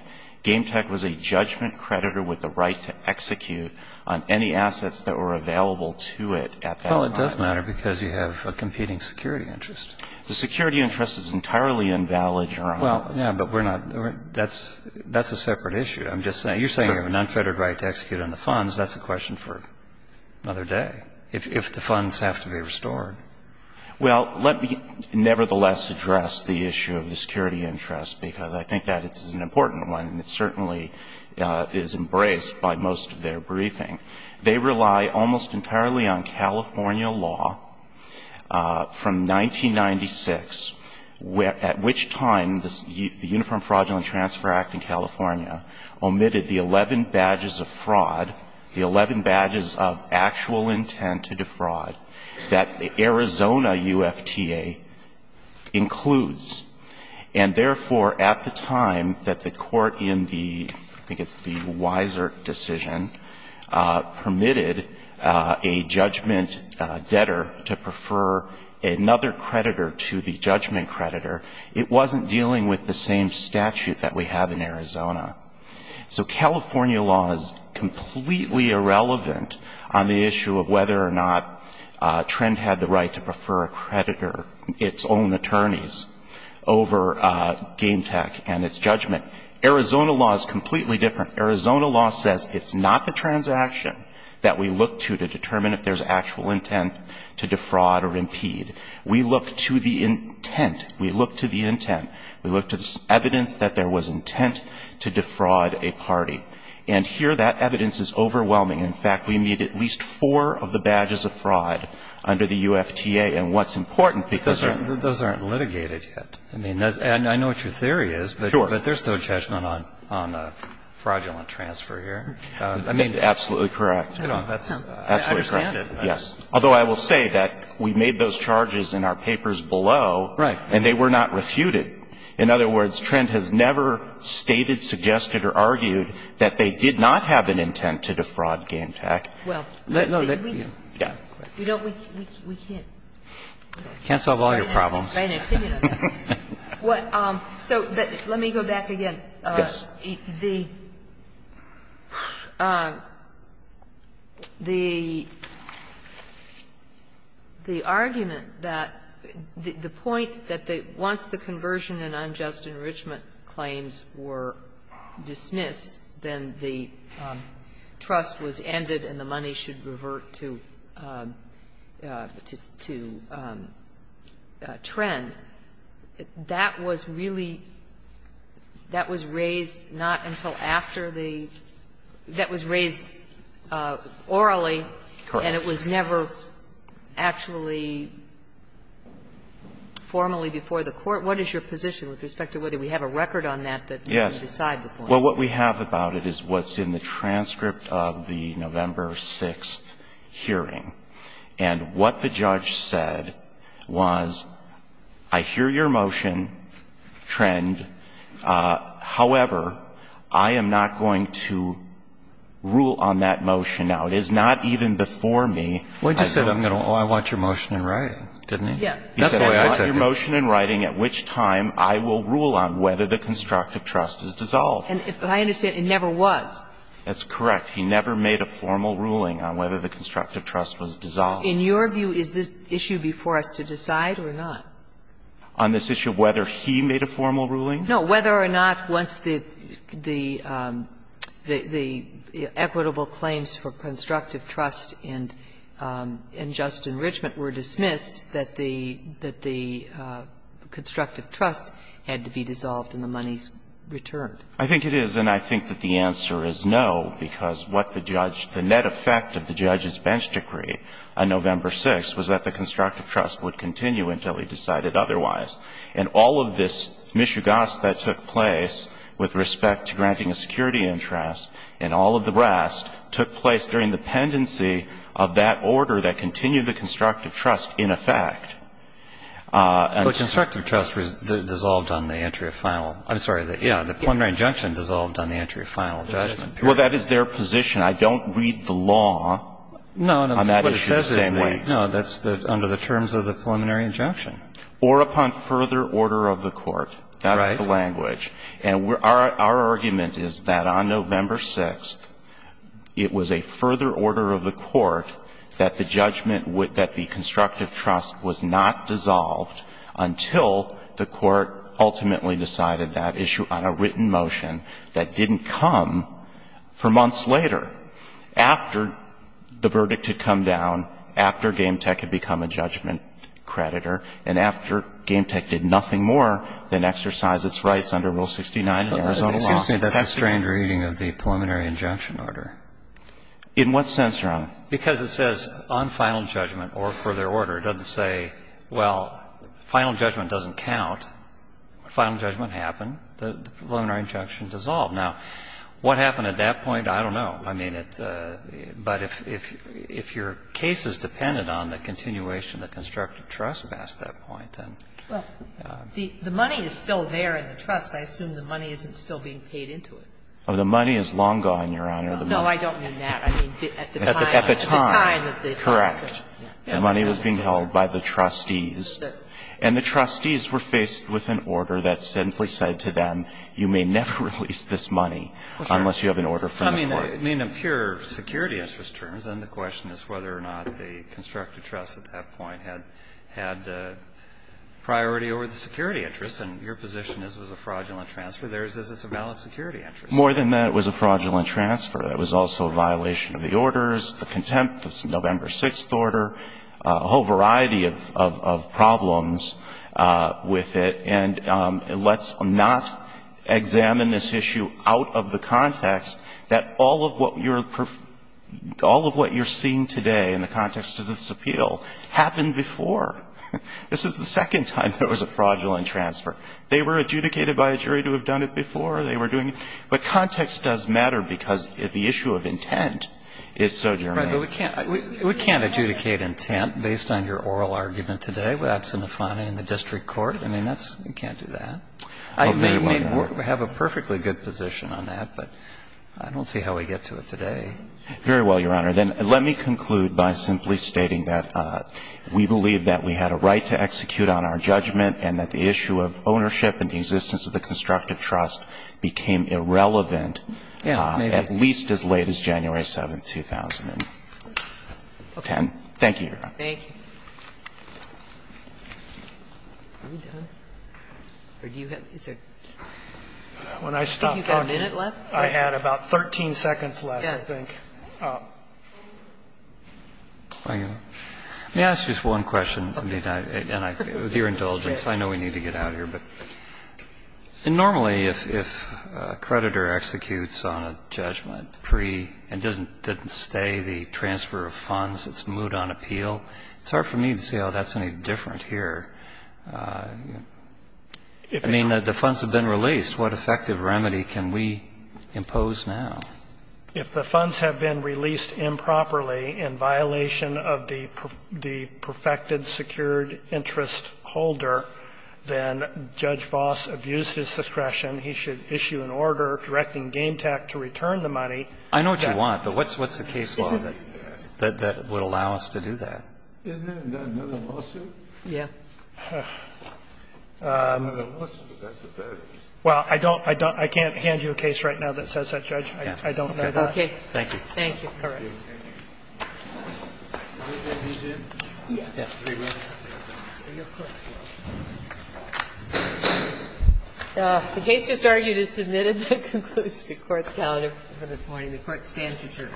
GameTech was a judgment creditor with the right to execute on any assets that were available to it at that time. Well, it does matter because you have a competing security interest. The security interest is entirely invalid, Your Honor. Well, yeah, but we're not – that's a separate issue. You're saying you have an unfettered right to execute on the funds. That's a question for another day, if the funds have to be restored. Well, let me nevertheless address the issue of the security interest because I think that it's an important one and it certainly is embraced by most of their briefing. They rely almost entirely on California law from 1996, at which time the Uniform Fraudulent Transfer Act in California omitted the 11 badges of fraud, the 11 badges of actual intent to defraud that the Arizona UFTA includes. And therefore, at the time that the court in the – I think it's the Wiser decision permitted a judgment debtor to prefer another creditor to the judgment creditor, it wasn't dealing with the same statute that we have in Arizona. So California law is completely irrelevant on the issue of whether or not Trent had the right to prefer a creditor, its own attorneys, over Game Tech and its judgment. Arizona law is completely different. Arizona law says it's not the transaction that we look to to determine if there's actual intent to defraud or impede. We look to the intent. We look to the intent. We look to the evidence that there was intent to defraud a party. And here that evidence is overwhelming. In fact, we meet at least four of the badges of fraud under the UFTA. And what's important because there's no judgment on fraudulent transfer here. I mean, that's absolutely correct. I understand it. Yes. Although I will say that we made those charges in our papers below. Right. And they were not refuted. In other words, Trent has never stated, suggested, or argued that they did not have an intent to defraud Game Tech. Well, we don't, we can't. Can't solve all your problems. Right. So let me go back again. Yes. The argument that the point that once the conversion and unjust enrichment claims were dismissed, then the trust was ended and the money should revert to trend. That was really, that was raised not until after the, that was raised orally. Correct. And it was never actually formally before the Court. What is your position with respect to whether we have a record on that that can decide the point? Yes. Well, what we have about it is what's in the transcript of the November 6th hearing. And what the judge said was, I hear your motion, trend. However, I am not going to rule on that motion. Now, it is not even before me. Well, he just said, oh, I want your motion in writing, didn't he? Yes. That's the way I said it. He said, I want your motion in writing, at which time I will rule on whether the constructive trust is dissolved. And if I understand, it never was. That's correct. He never made a formal ruling on whether the constructive trust was dissolved. In your view, is this issue before us to decide or not? On this issue of whether he made a formal ruling? No. Whether or not once the equitable claims for constructive trust and just enrichment were dismissed, that the constructive trust had to be dissolved and the monies returned. I think it is, and I think that the answer is no, because what the judge, the net effect of the judge's bench decree on November 6th was that the constructive trust would continue until he decided otherwise. And all of this mishugas that took place with respect to granting a security interest and all of the rest took place during the pendency of that order that continued the constructive trust in effect. Well, constructive trust dissolved on the entry of final. I'm sorry. Yeah, the preliminary injunction dissolved on the entry of final judgment. Well, that is their position. I don't read the law on that issue the same way. No, that's under the terms of the preliminary injunction. Or upon further order of the court. Right. That's the language. And our argument is that on November 6th, it was a further order of the court that the judgment that the constructive trust was not dissolved until the court ultimately decided that issue on a written motion that didn't come for months later, after the verdict had come down, after GameTech had become a judgment creditor, and after GameTech did nothing more than exercise its rights under Rule 69 of the Arizona law. Excuse me. That's a strange reading of the preliminary injunction order. In what sense, Your Honor? Because it says on final judgment or further order. It doesn't say, well, final judgment doesn't count. Final judgment happened. The preliminary injunction dissolved. Now, what happened at that point? I don't know. I mean, it's a – but if your case is dependent on the continuation of the constructive trust past that point, then. Well, the money is still there in the trust. I assume the money isn't still being paid into it. Well, the money is long gone, Your Honor. No, I don't mean that. I mean, at the time. At the time. At the time. Correct. The money was being held by the trustees, and the trustees were faced with an order that simply said to them, you may never release this money unless you have an order from the court. I mean, in pure security interest terms. And the question is whether or not the constructive trust at that point had priority over the security interest. And your position is it was a fraudulent transfer. Theirs is it's a valid security interest. More than that, it was a fraudulent transfer. It was also a violation of the orders, the contempt of the November 6th order, a whole variety of problems with it. And let's not examine this issue out of the context that all of what you're – all of what you're seeing today in the context of this appeal happened before. This is the second time there was a fraudulent transfer. They were adjudicated by a jury to have done it before. They were doing it. But context does matter because the issue of intent is so germane. Right. But we can't – we can't adjudicate intent based on your oral argument today without some defining the district court. I mean, that's – you can't do that. I may have a perfectly good position on that, but I don't see how we get to it today. Very well, Your Honor. Then let me conclude by simply stating that we believe that we had a right to execute on our judgment and that the issue of ownership and the existence of the constructive trust became irrelevant at least as late as January 7th, 2010. Thank you, Your Honor. Thank you. Are we done? Or do you have – is there – I think you've got a minute left. I had about 13 seconds left, I think. Let me ask you just one question, and with your indulgence. I know we need to get out of here. Normally, if a creditor executes on a judgment pre- and didn't stay the transfer of funds, it's moved on appeal. It's hard for me to see how that's any different here. I mean, the funds have been released. What effective remedy can we impose now? If the funds have been released improperly in violation of the perfected secured interest holder, then Judge Vos abused his discretion. He should issue an order directing GameTac to return the money. I know what you want, but what's the case law that would allow us to do that? Isn't it another lawsuit? Yeah. Another lawsuit, I suppose. Well, I don't – I can't hand you a case right now that says that, Judge. I don't know that. Okay. Thank you. Thank you. All right. The case just argued is submitted. That concludes the Court's calendar for this morning. The Court stands adjourned.